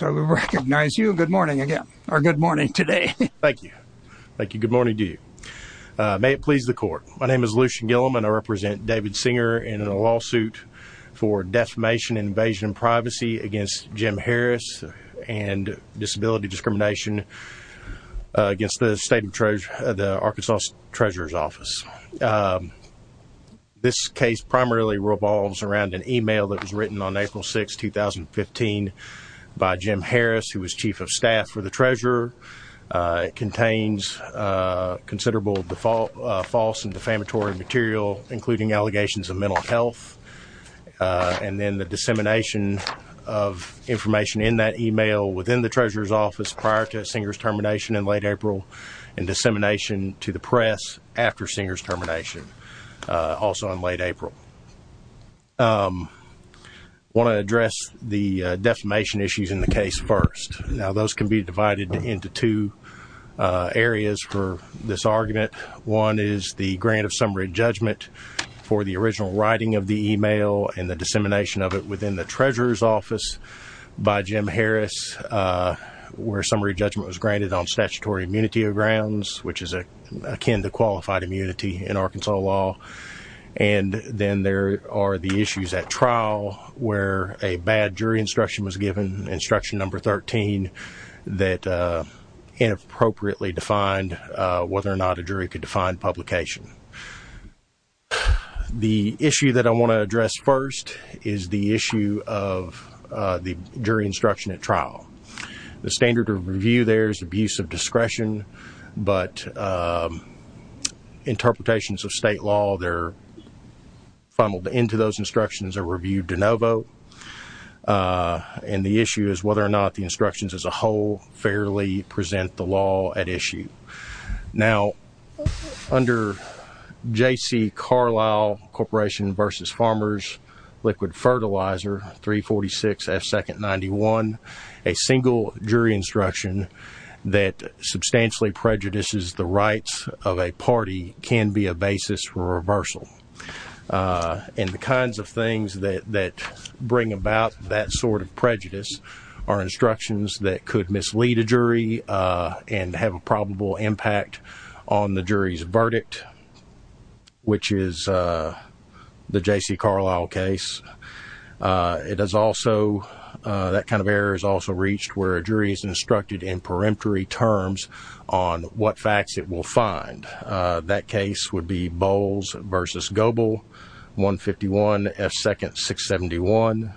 So we recognize you. Good morning again, or good morning today. Thank you. Thank you. Good morning to you. May it please the court. My name is Lucian Gilliam and I represent David Singer in a lawsuit for defamation, invasion, privacy against Jim Harris and disability discrimination against the Arkansas Treasurer's Office. This case primarily revolves around an email that was written on April 6, 2015, by Jim Harris, who was Chief of Staff for the Treasurer. It contains considerable false and defamatory material, including allegations of mental health and then the dissemination of information in that email within the Treasurer's Office prior to Singer's termination in late April and dissemination to the press after Singer's termination. Also in late April. I want to address the defamation issues in the case first. Now those can be divided into two areas for this argument. One is the grant of summary judgment for the original writing of the email and the dissemination of it within the Treasurer's Office by Jim Harris, where summary judgment was granted on statutory immunity grounds, which is akin to qualified immunity. In Arkansas law, and then there are the issues at trial where a bad jury instruction was given instruction number 13 that inappropriately defined whether or not a jury could define publication. The issue that I want to address first is the issue of the jury instruction at trial. The standard of review there is abuse of discretion, but interpretations of state law, they're funneled into those instructions are reviewed de novo. And the issue is whether or not the instructions as a whole fairly present the law at issue. Now under J.C. Carlisle Corporation v. Farmers Liquid Fertilizer 346 F. Second 91, a single jury instruction that substantially prejudices the rights of a party can be a basis for reversal. And the kinds of things that bring about that sort of prejudice are instructions that could mislead a jury and have a probable impact on the jury's verdict, which is the J.C. Carlisle case. It is also that kind of error is also reached where a jury is instructed in peremptory terms on what facts it will find. That case would be Bowles v. Goebel 151 F. Second 671.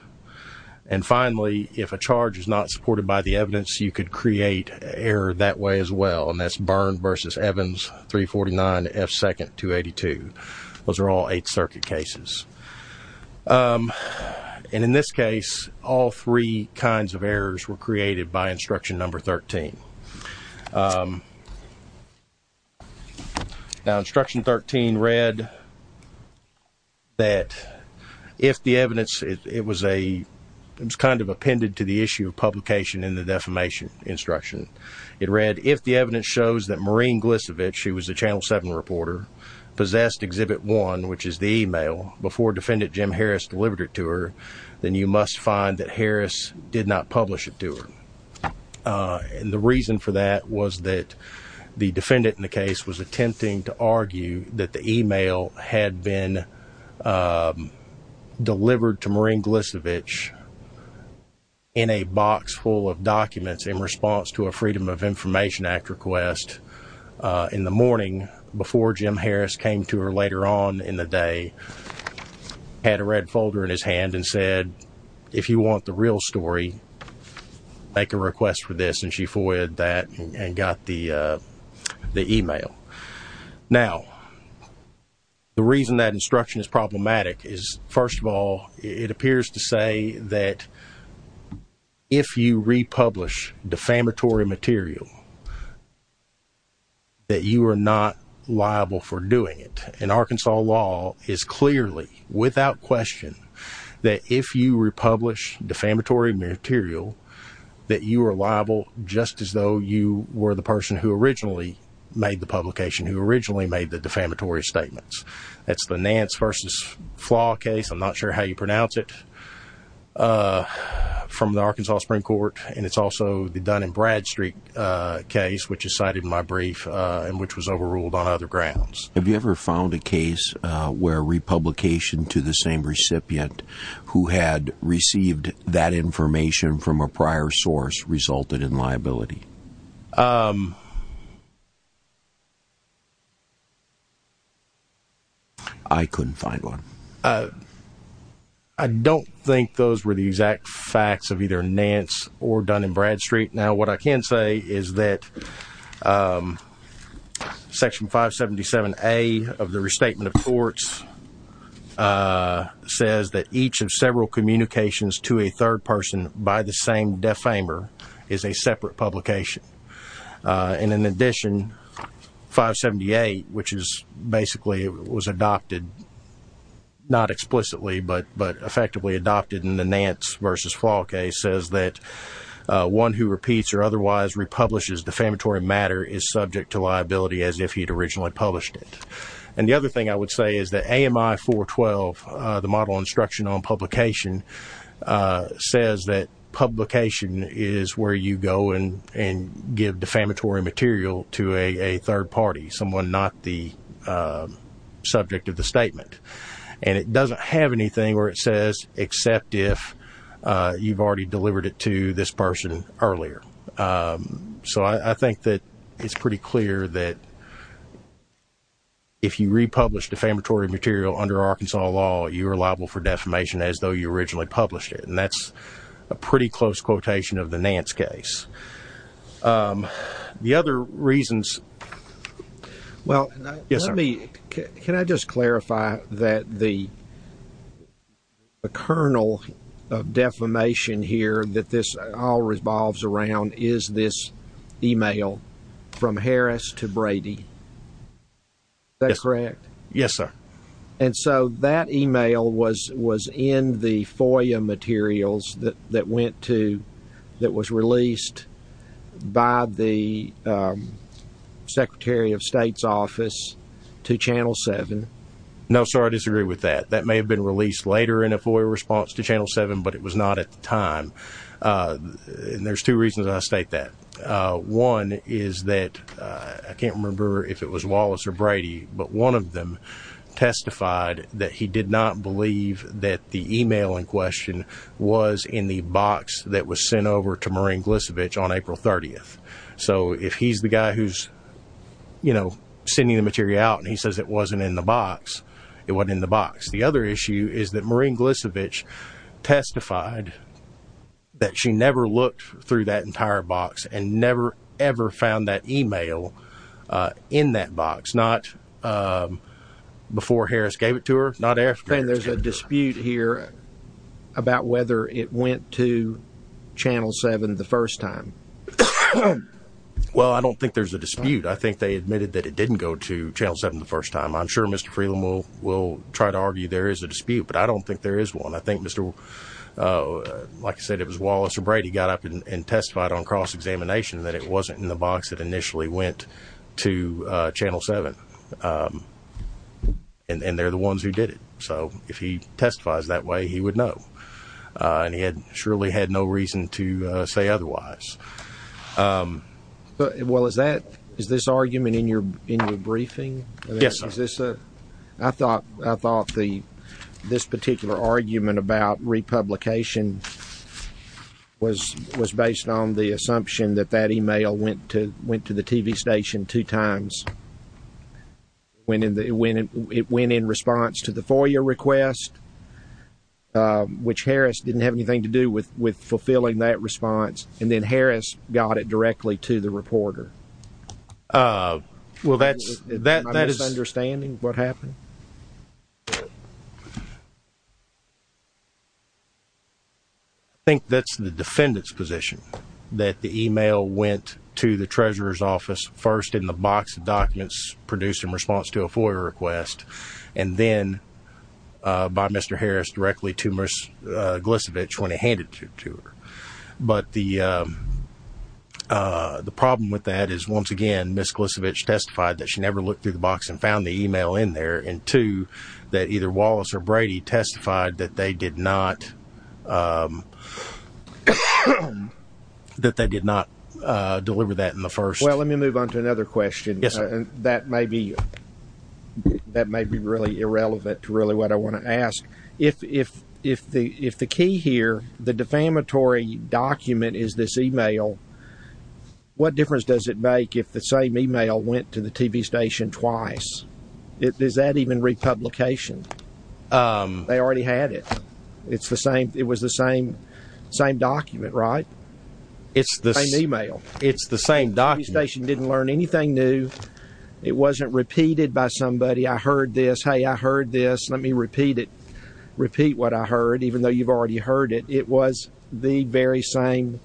And finally, if a charge is not supported by the evidence, you could create error that way as well. And that's Byrne v. Evans 349 F. Second 282. Those are all Eighth Circuit cases. And in this case, all three kinds of errors were created by instruction number 13. Now instruction 13 read that if the evidence, it was kind of appended to the issue of publication in the defamation instruction. It read, if the evidence shows that Maureen Glicevich, who was a Channel 7 reporter, possessed Exhibit 1, which is the e-mail, before Defendant Jim Harris delivered it to her, then you must find that Harris did not publish it to her. And the reason for that was that the defendant in the case was attempting to argue that the e-mail had been delivered to Maureen Glicevich in a box full of documents in response to a Freedom of Information Act request in the morning before Jim Harris came to her later on in the day, had a red folder in his hand and said, if you want the real story, make a request for this. And she forwarded that and got the e-mail. Now, the reason that instruction is problematic is, first of all, it appears to say that if you republish defamatory material, that you are not liable for doing it. And Arkansas law is clearly, without question, that if you republish defamatory material, that you are liable, just as though you were the person who originally made the publication, who originally made the defamatory statements. That's the Nance v. Flaw case, I'm not sure how you pronounce it, from the Arkansas Supreme Court. And it's also the Dun & Bradstreet case, which is cited in my brief and which was overruled on other grounds. Have you ever found a case where republication to the same recipient who had received that information from a prior source resulted in liability? Um... I couldn't find one. I don't think those were the exact facts of either Nance or Dun & Bradstreet. Now, what I can say is that Section 577A of the Restatement of Courts says that each of several communications to a third person by the same defamer is a separate publication. And in addition, 578, which is basically was adopted, not explicitly, but effectively adopted in the Nance v. Flaw case, says that one who repeats or otherwise republishes defamatory matter is subject to liability as if he'd originally published it. And the other thing I would say is that AMI 412, the Model Instruction on Publication, says that publication is where you go and give defamatory material to a third party, someone not the subject of the statement. And it doesn't have anything where it says except if you've already delivered it to this person earlier. So I think that it's pretty clear that if you republish defamatory material under Arkansas law, you're liable for defamation as though you originally published it. And that's a pretty close quotation of the Nance case. The other reasons... Well, let me... Yes, sir. Can I just clarify that the kernel of defamation here that this all revolves around is this email from Harris to Brady? Is that correct? Yes, sir. And so that email was in the FOIA materials that was released by the Secretary of State's office to Channel 7. No, sir, I disagree with that. That may have been released later in a FOIA response to Channel 7, but it was not at the time. And there's two reasons I state that. One is that I can't remember if it was Wallace or Brady, but one of them testified that he did not believe that the email in question was in the box that was sent over to Maureen Glisevich on April 30th. So if he's the guy who's, you know, sending the material out and he says it wasn't in the box, it wasn't in the box. The other issue is that Maureen Glisevich testified that she never looked through that entire box and never, ever found that email in that box. Not before Harris gave it to her, not after Harris gave it to her. Then there's a dispute here about whether it went to Channel 7 the first time. Well, I don't think there's a dispute. I think they admitted that it didn't go to Channel 7 the first time. I'm sure Mr. Freeland will try to argue there is a dispute, but I don't think there is one. I think, like I said, it was Wallace or Brady got up and testified on cross-examination that it wasn't in the box that initially went to Channel 7. And they're the ones who did it. So if he testifies that way, he would know. And he surely had no reason to say otherwise. Well, is this argument in your briefing? Yes. I thought this particular argument about republication was based on the assumption that that email went to the TV station two times. It went in response to the FOIA request, which Harris didn't have anything to do with fulfilling that response. And then Harris got it directly to the reporter. Well, that is... Am I misunderstanding what happened? I think that's the defendant's position, that the email went to the Treasurer's Office first in the box of documents produced in response to a FOIA request, and then by Mr. Harris directly to Ms. Glisevich when he handed it to her. But the problem with that is, once again, Ms. Glisevich testified that she never looked through the box and found the email in there, and two, that either Wallace or Brady testified that they did not deliver that in the first... Well, let me move on to another question. Yes, sir. And that may be really irrelevant to really what I want to ask. If the key here, the defamatory document is this email, what difference does it make if the same email went to the TV station twice? Is that even republication? They already had it. It was the same document, right? It's the same email. It's the same document. The TV station didn't learn anything new. It wasn't repeated by somebody. I heard this. Hey, I heard this. Let me repeat it. Repeat what I heard, even though you've already heard it. It was the very same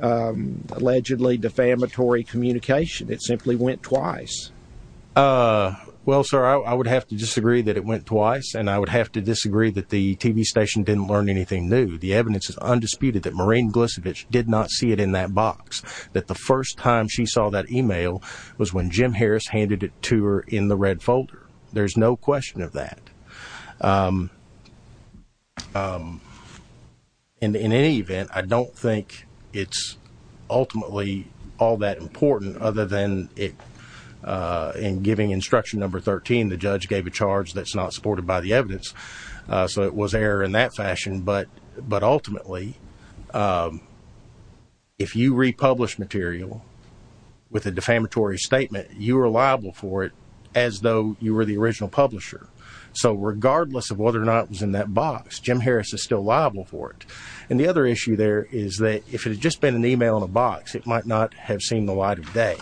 allegedly defamatory communication. It simply went twice. Well, sir, I would have to disagree that it went twice, and I would have to disagree that the TV station didn't learn anything new. The evidence is undisputed that Maureen Glisevich did not see it in that box, that the first time she saw that email was when Jim Harris handed it to her in the red folder. There's no question of that. In any event, I don't think it's ultimately all that important, other than in giving instruction number 13, the judge gave a charge that's not supported by the evidence, so it was error in that fashion. But ultimately, if you republish material with a defamatory statement, you are liable for it as though you were the original publisher. So regardless of whether or not it was in that box, Jim Harris is still liable for it. And the other issue there is that if it had just been an email in a box, it might not have seen the light of day.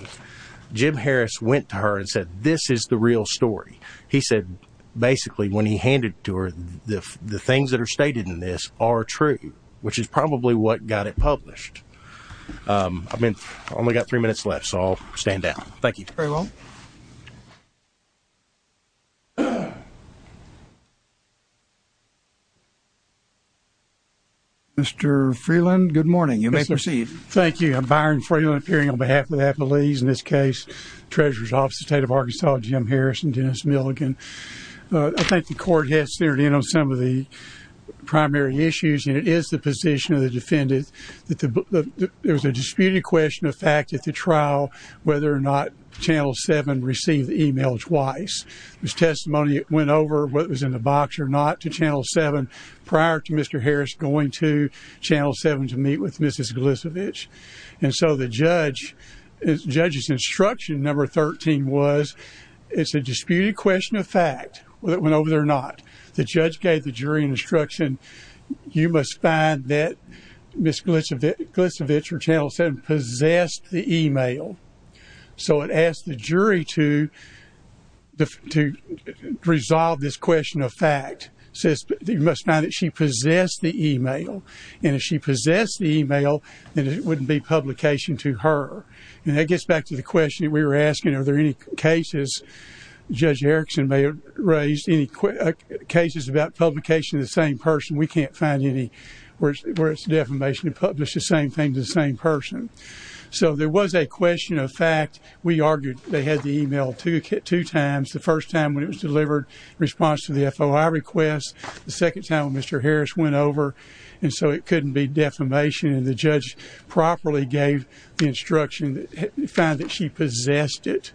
Jim Harris went to her and said, this is the real story. He said, basically, when he handed it to her, the things that are stated in this are true, which is probably what got it published. I've only got three minutes left, so I'll stand down. Thank you. Very well. Mr. Freeland, good morning. You may proceed. Thank you. I'm Byron Freeland, appearing on behalf of the Appellees. In this case, Treasurer's Office of the State of Arkansas, Jim Harris and Dennis Milligan. I think the court has steered in on some of the primary issues, and it is the position of the defendant that there was a disputed question of fact at the trial, whether or not Channel 7 received the email twice. It was testimony that went over what was in the box or not to Channel 7 prior to Mr. Harris going to Channel 7 to meet with Mrs. Glisevich. And so the judge's instruction, number 13, was it's a disputed question of fact, whether it went over there or not. The judge gave the jury an instruction, you must find that Mrs. Glisevich from Channel 7 possessed the email. So it asked the jury to resolve this question of fact. It says you must find that she possessed the email. And if she possessed the email, then it wouldn't be publication to her. And that gets back to the question we were asking, are there any cases Judge Erickson may have raised, any cases about publication to the same person? We can't find any where it's defamation to publish the same thing to the same person. So there was a question of fact. We argued they had the email two times, the first time when it was delivered in response to the FOI request, the second time when Mr. Harris went over. And so it couldn't be defamation. And the judge properly gave the instruction, found that she possessed it.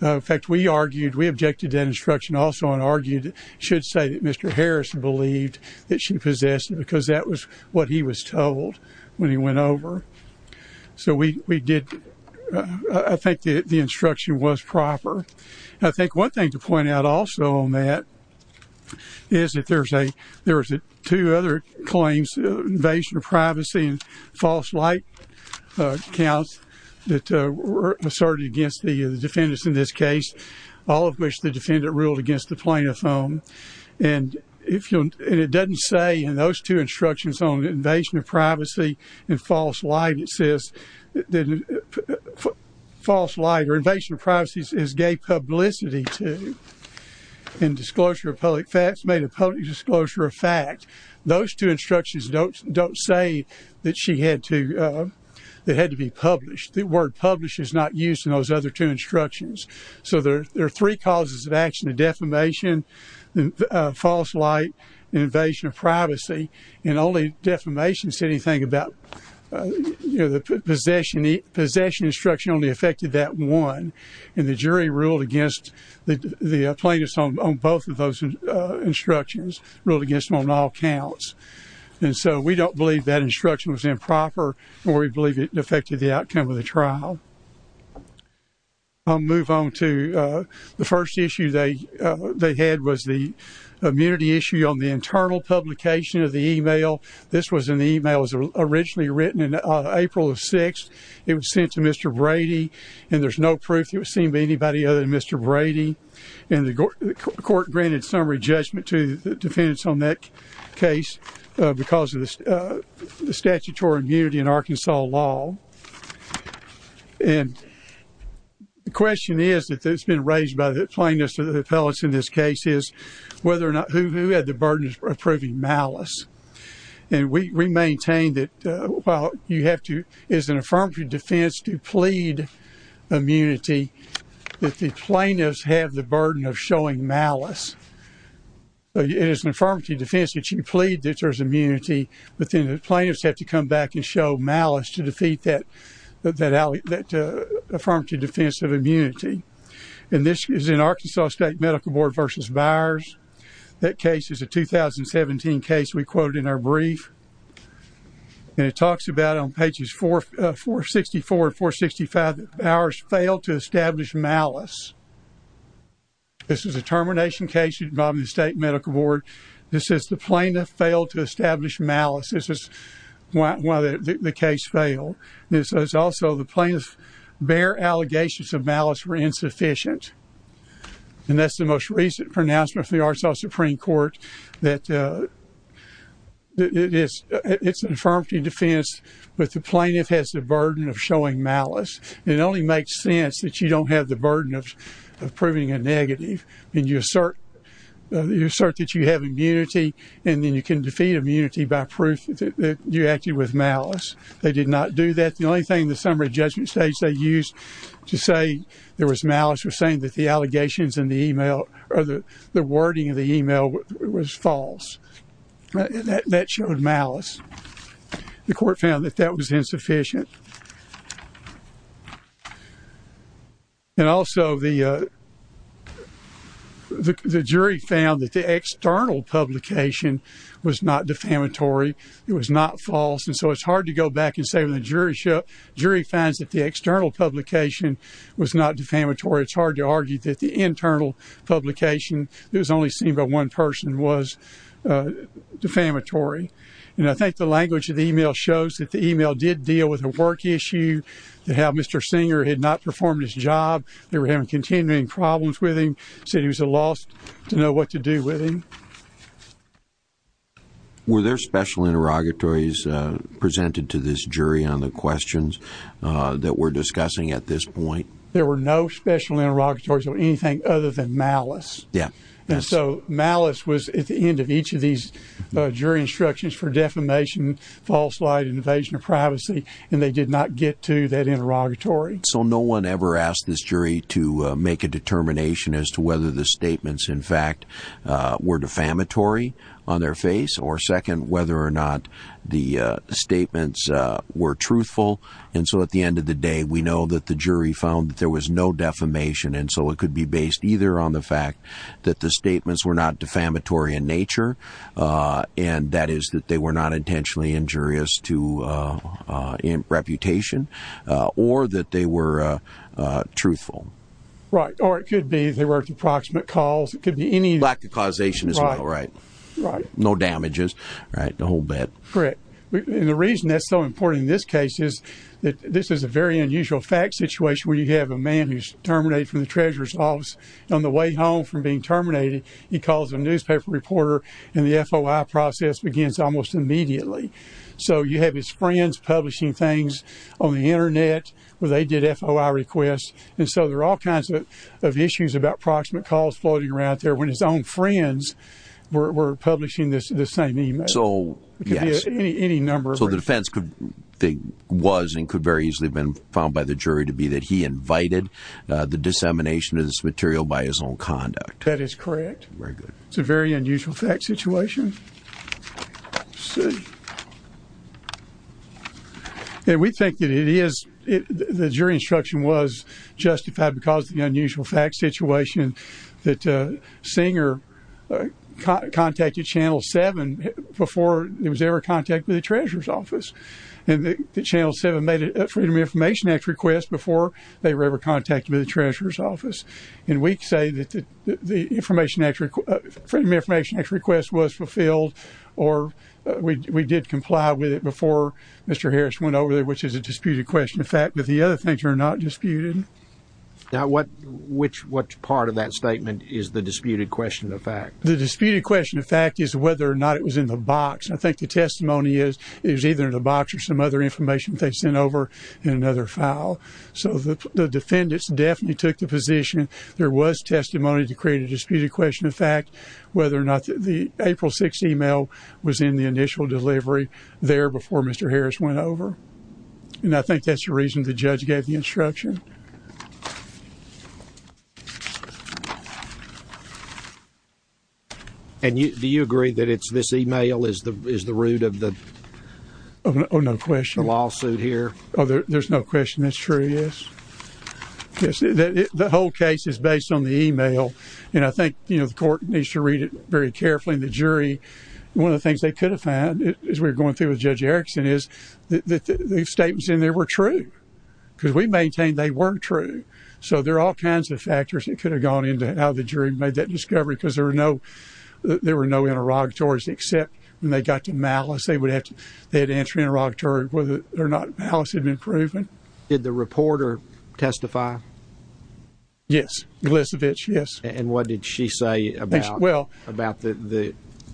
In fact, we argued, we objected to that instruction also and argued, should say that Mr. Harris believed that she possessed it because that was what he was told when he went over. So we did, I think the instruction was proper. I think one thing to point out also on that is that there's two other claims, invasion of privacy and false light counts that were asserted against the defendants in this case, all of which the defendant ruled against the plaintiff's own. And it doesn't say in those two instructions on invasion of privacy and false light, it says false light or invasion of privacy is gay publicity too. And disclosure of public facts made a public disclosure of fact. Those two instructions don't say that she had to, that it had to be published. The word publish is not used in those other two instructions. So there are three causes of action of defamation, false light, and invasion of privacy. And only defamation said anything about, you know, the possession instruction only affected that one. And the jury ruled against the plaintiffs on both of those instructions, ruled against them on all counts. And so we don't believe that instruction was improper or we believe it affected the outcome of the trial. I'll move on to the first issue they had was the immunity issue on the internal publication of the email. This was an email that was originally written in April of 6th. It was sent to Mr. Brady and there's no proof it was seen by anybody other than Mr. Brady. And the court granted summary judgment to the defendants on that case because of the statutory immunity in Arkansas law. And the question is that it's been raised by the plaintiffs or the appellates in this case is whether or not who had the burden of proving malice. And we maintain that while you have to, it's an affirmative defense to plead immunity, that the plaintiffs have the burden of showing malice. It is an affirmative defense that you plead that there's immunity, but then the plaintiffs have to come back and show malice to defeat that affirmative defense of immunity. And this is in Arkansas State Medical Board versus Byers. That case is a 2017 case we quoted in our brief. And it talks about on pages 464 and 465 that Byers failed to establish malice. This is a termination case involving the state medical board. This is the plaintiff failed to establish malice. This is why the case failed. This is also the plaintiff's bare allegations of malice were insufficient. And that's the most recent pronouncement from the Arkansas Supreme Court that it's an affirmative defense, but the plaintiff has the burden of showing malice. And it only makes sense that you don't have the burden of proving a negative. And you assert that you have immunity, and then you can defeat immunity by proof that you acted with malice. They did not do that. The only thing in the summary judgment stage they used to say there was malice was saying that the allegations in the email or the wording of the email was false. That showed malice. The court found that that was insufficient. And also the jury found that the external publication was not defamatory. It was not false. And so it's hard to go back and say when the jury finds that the external publication was not defamatory, it's hard to argue that the internal publication that was only seen by one person was defamatory. And I think the language of the email shows that the email did deal with a work issue, that how Mr. Singer had not performed his job, they were having continuing problems with him, said he was at a loss to know what to do with him. Were there special interrogatories presented to this jury on the questions that we're discussing at this point? There were no special interrogatories on anything other than malice. And so malice was at the end of each of these jury instructions for defamation, false light, invasion of privacy, and they did not get to that interrogatory. So no one ever asked this jury to make a determination as to whether the statements, in fact, were defamatory on their face, or second, whether or not the statements were truthful. And so at the end of the day, we know that the jury found that there was no defamation, and so it could be based either on the fact that the statements were not defamatory in nature, and that is that they were not intentionally injurious to reputation, or that they were truthful. Right, or it could be they were at the proximate cause. Lack of causation as well, right. Right. No damages, right, the whole bit. Correct. And the reason that's so important in this case is that this is a very unusual fact situation where you have a man who's terminated from the treasurer's office on the way home from being terminated. He calls a newspaper reporter, and the FOI process begins almost immediately. So you have his friends publishing things on the Internet where they did FOI requests, and so there are all kinds of issues about proximate cause floating around there when his own friends were publishing the same email. So, yes. It could be any number. So the defense was and could very easily have been found by the jury to be that he invited the dissemination of this material by his own conduct. That is correct. Very good. It's a very unusual fact situation. And we think that the jury instruction was justified because of the unusual fact situation that Singer contacted Channel 7 before he was ever contacted by the treasurer's office, and that Channel 7 made a Freedom of Information Act request before they were ever contacted by the treasurer's office. And we say that the Freedom of Information Act request was fulfilled or we did comply with it before Mr. Harris went over there, which is a disputed question. In fact, the other things are not disputed. Now, what part of that statement is the disputed question of fact? The disputed question of fact is whether or not it was in the box. I think the testimony is it was either in the box or some other information that they sent over in another file. So the defendants definitely took the position there was testimony to create a disputed question of fact, whether or not the April 6th email was in the initial delivery there before Mr. Harris went over. And I think that's the reason the judge gave the instruction. And do you agree that it's this email is the root of the lawsuit here? There's no question that's true, yes. The whole case is based on the email. And I think the court needs to read it very carefully. And the jury, one of the things they could have found as we were going through with Judge Erickson is that the statements in there were true. Because we maintained they weren't true. So there are all kinds of factors that could have gone into how the jury made that discovery because there were no interrogatories except when they got to malice. They had to answer interrogatory whether or not malice had been proven. Did the reporter testify? Yes, Elisavitch, yes. And what did she say about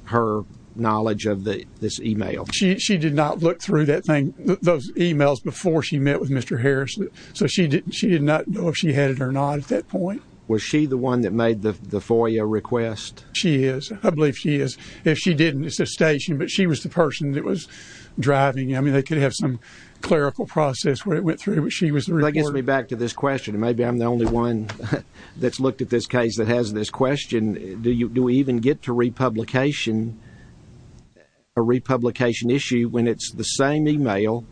her knowledge of this email? She did not look through that thing, those emails before she met with Mr. Harris. So she did not know if she had it or not at that point. Was she the one that made the FOIA request? She is. I believe she is. If she didn't, it's a station, but she was the person that was driving it. I mean, they could have some clerical process where it went through, but she was the reporter. That gets me back to this question. Maybe I'm the only one that's looked at this case that has this question. Do we even get to a republication issue when it's the same email?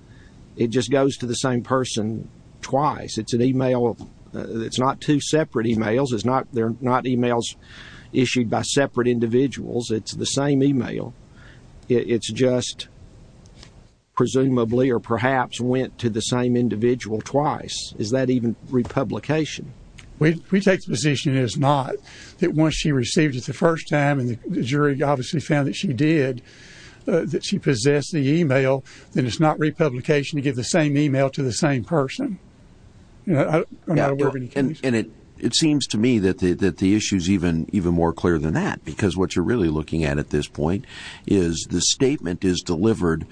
It just goes to the same person twice. It's not two separate emails. They're not emails issued by separate individuals. It's the same email. It's just presumably or perhaps went to the same individual twice. Is that even republication? We take the position it is not, that once she received it the first time and the jury obviously found that she did, that she possessed the email, then it's not republication to give the same email to the same person. And it seems to me that the issue is even more clear than that because what you're really looking at at this point is the statement is delivered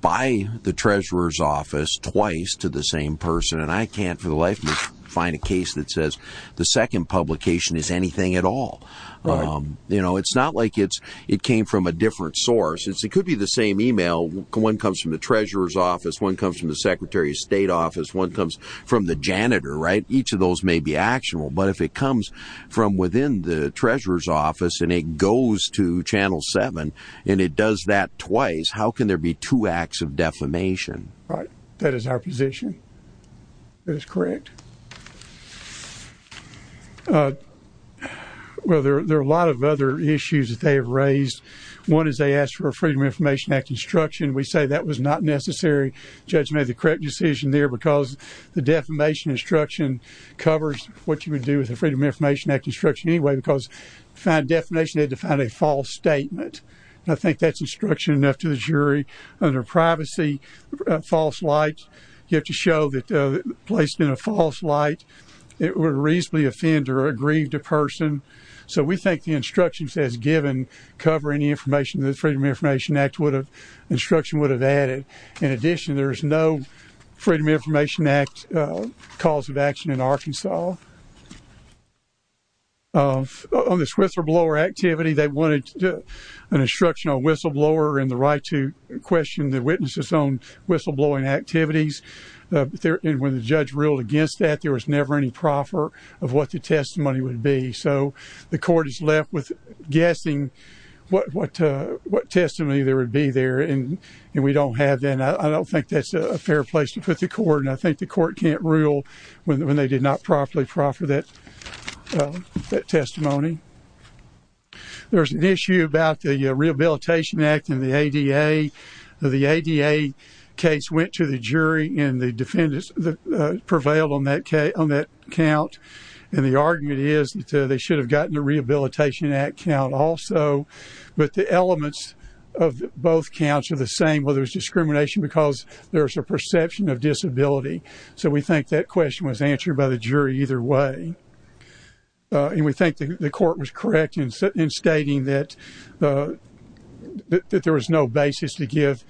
by the treasurer's office twice to the same person, and I can't for the life of me find a case that says the second publication is anything at all. It's not like it came from a different source. It could be the same email. One comes from the treasurer's office. One comes from the secretary of state office. One comes from the janitor. Each of those may be actionable, but if it comes from within the treasurer's office and it goes to Channel 7 and it does that twice, how can there be two acts of defamation? Right. That is our position. That is correct. Well, there are a lot of other issues that they have raised. One is they asked for a Freedom of Information Act instruction. We say that was not necessary. The judge made the correct decision there because the defamation instruction covers what you would do with a Freedom of Information Act instruction anyway because to find a defamation, they had to find a false statement. I think that's instruction enough to the jury. Under privacy, false light, you have to show that placed in a false light, it would reasonably offend or aggrieve the person. So we think the instructions as given cover any information that the Freedom of Information Act instruction would have added. In addition, there is no Freedom of Information Act cause of action in Arkansas. On this whistleblower activity, they wanted an instruction on whistleblower and the right to question the witnesses on whistleblowing activities. When the judge ruled against that, there was never any proffer of what the testimony would be. So the court is left with guessing what testimony there would be there and we don't have that. I don't think that's a fair place to put the court and I think the court can't rule when they did not properly proffer that testimony. There's an issue about the Rehabilitation Act and the ADA. The ADA case went to the jury and the defendants prevailed on that count and the argument is that they should have gotten the Rehabilitation Act count also but the elements of both counts are the same. Well, there's discrimination because there's a perception of disability. So we think that question was answered by the jury either way. And we think the court was correct in stating that there was no basis to give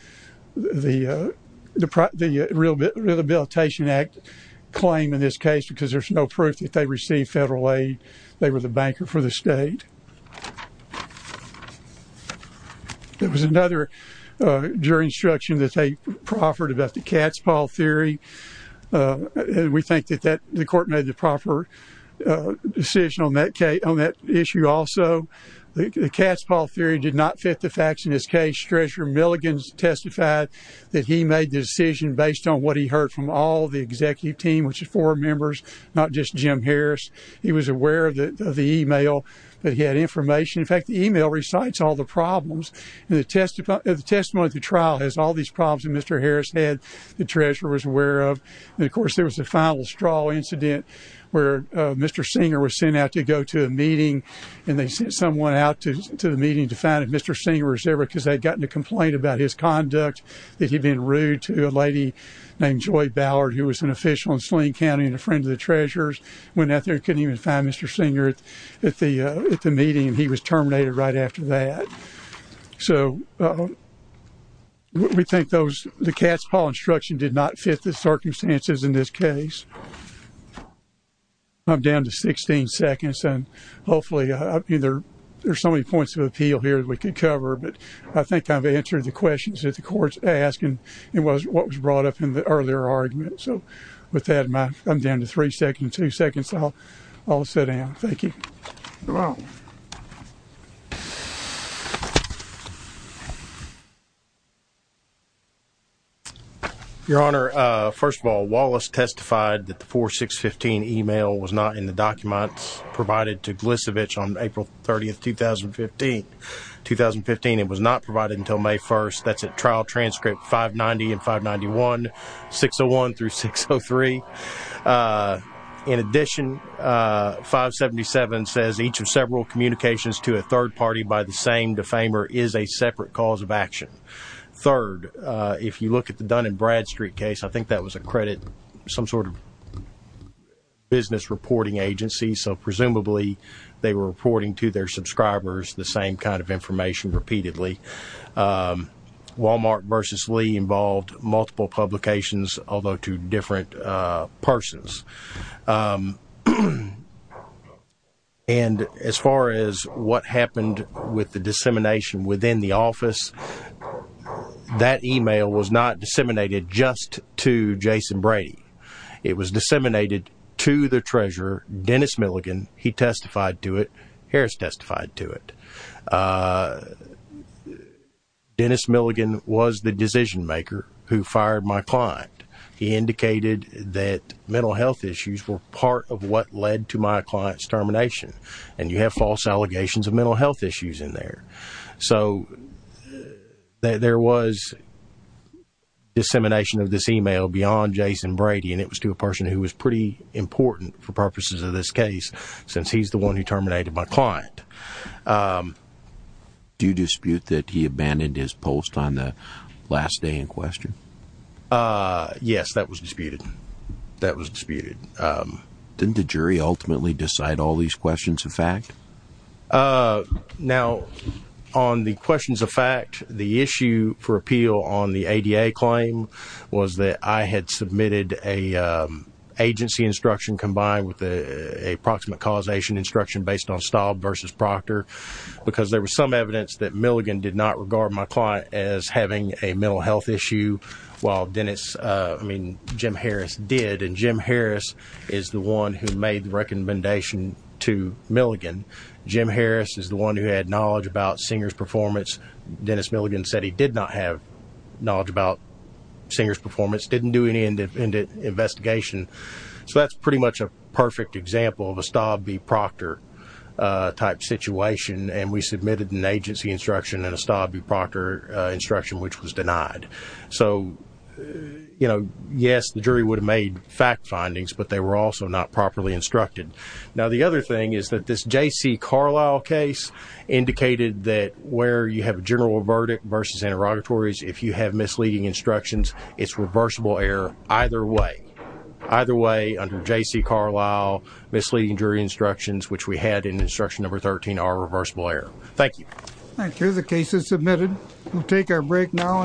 the Rehabilitation Act claim in this case because there's no proof that they received federal aid. They were the banker for the state. There was another jury instruction that they offered about the Catspaw Theory. We think that the court made the proper decision on that issue also. The Catspaw Theory did not fit the facts in this case. Treasurer Milligan testified that he made the decision based on what he heard from all the executive team, which is four members, not just Jim Harris. He was aware of the e-mail, but he had information. In fact, the e-mail recites all the problems. The testimony at the trial has all these problems that Mr. Harris had. The treasurer was aware of. And, of course, there was the final straw incident where Mr. Singer was sent out to go to a meeting and they sent someone out to the meeting to find if Mr. Singer was there because they'd gotten a complaint about his conduct, that he'd been rude to a lady named Joy Ballard, who was an official in Sling County and a friend of the treasurer's. Went out there and couldn't even find Mr. Singer at the meeting, and he was terminated right after that. So we think the Catspaw Instruction did not fit the circumstances in this case. I'm down to 16 seconds, and hopefully there are so many points of appeal here that we could cover, but I think I've answered the questions that the court's asked and what was brought up in the earlier argument. So with that, I'm down to three seconds, two seconds, so I'll sit down. Thank you. You're welcome. Your Honor, first of all, Wallace testified that the 4-6-15 email was not in the documents provided to Glisevich on April 30th, 2015. 2015, it was not provided until May 1st. That's at trial transcript 590 and 591, 601 through 603. In addition, 577 says, each of several communications to a third party by the same defamer is a separate cause of action. Third, if you look at the Dun & Bradstreet case, I think that was a credit, some sort of business reporting agency, so presumably they were reporting to their subscribers the same kind of information repeatedly. Walmart v. Lee involved multiple publications, although to different persons. And as far as what happened with the dissemination within the office, that email was not disseminated just to Jason Brady. It was disseminated to the treasurer, Dennis Milligan. He testified to it. Harris testified to it. Dennis Milligan was the decision-maker who fired my client. He indicated that mental health issues were part of what led to my client's termination, and you have false allegations of mental health issues in there. So there was dissemination of this email beyond Jason Brady, and it was to a person who was pretty important for purposes of this case since he's the one who terminated my client. Do you dispute that he abandoned his post on the last day in question? Yes, that was disputed. That was disputed. Didn't the jury ultimately decide all these questions of fact? Now, on the questions of fact, the issue for appeal on the ADA claim was that I had submitted an agency instruction combined with a proximate causation instruction based on Staub v. Proctor because there was some evidence that Milligan did not regard my client as having a mental health issue while Jim Harris did, and Jim Harris is the one who made the recommendation to Milligan. Jim Harris is the one who had knowledge about Singer's performance. Dennis Milligan said he did not have knowledge about Singer's performance, didn't do any independent investigation. So that's pretty much a perfect example of a Staub v. Proctor type situation, and we submitted an agency instruction and a Staub v. Proctor instruction which was denied. So, you know, yes, the jury would have made fact findings, but they were also not properly instructed. Now, the other thing is that this J.C. Carlisle case indicated that where you have a general verdict versus interrogatories, if you have misleading instructions, it's reversible error either way. Either way, under J.C. Carlisle, misleading jury instructions, which we had in instruction number 13, are reversible error. Thank you. Thank you. The case is submitted. We'll take our break now.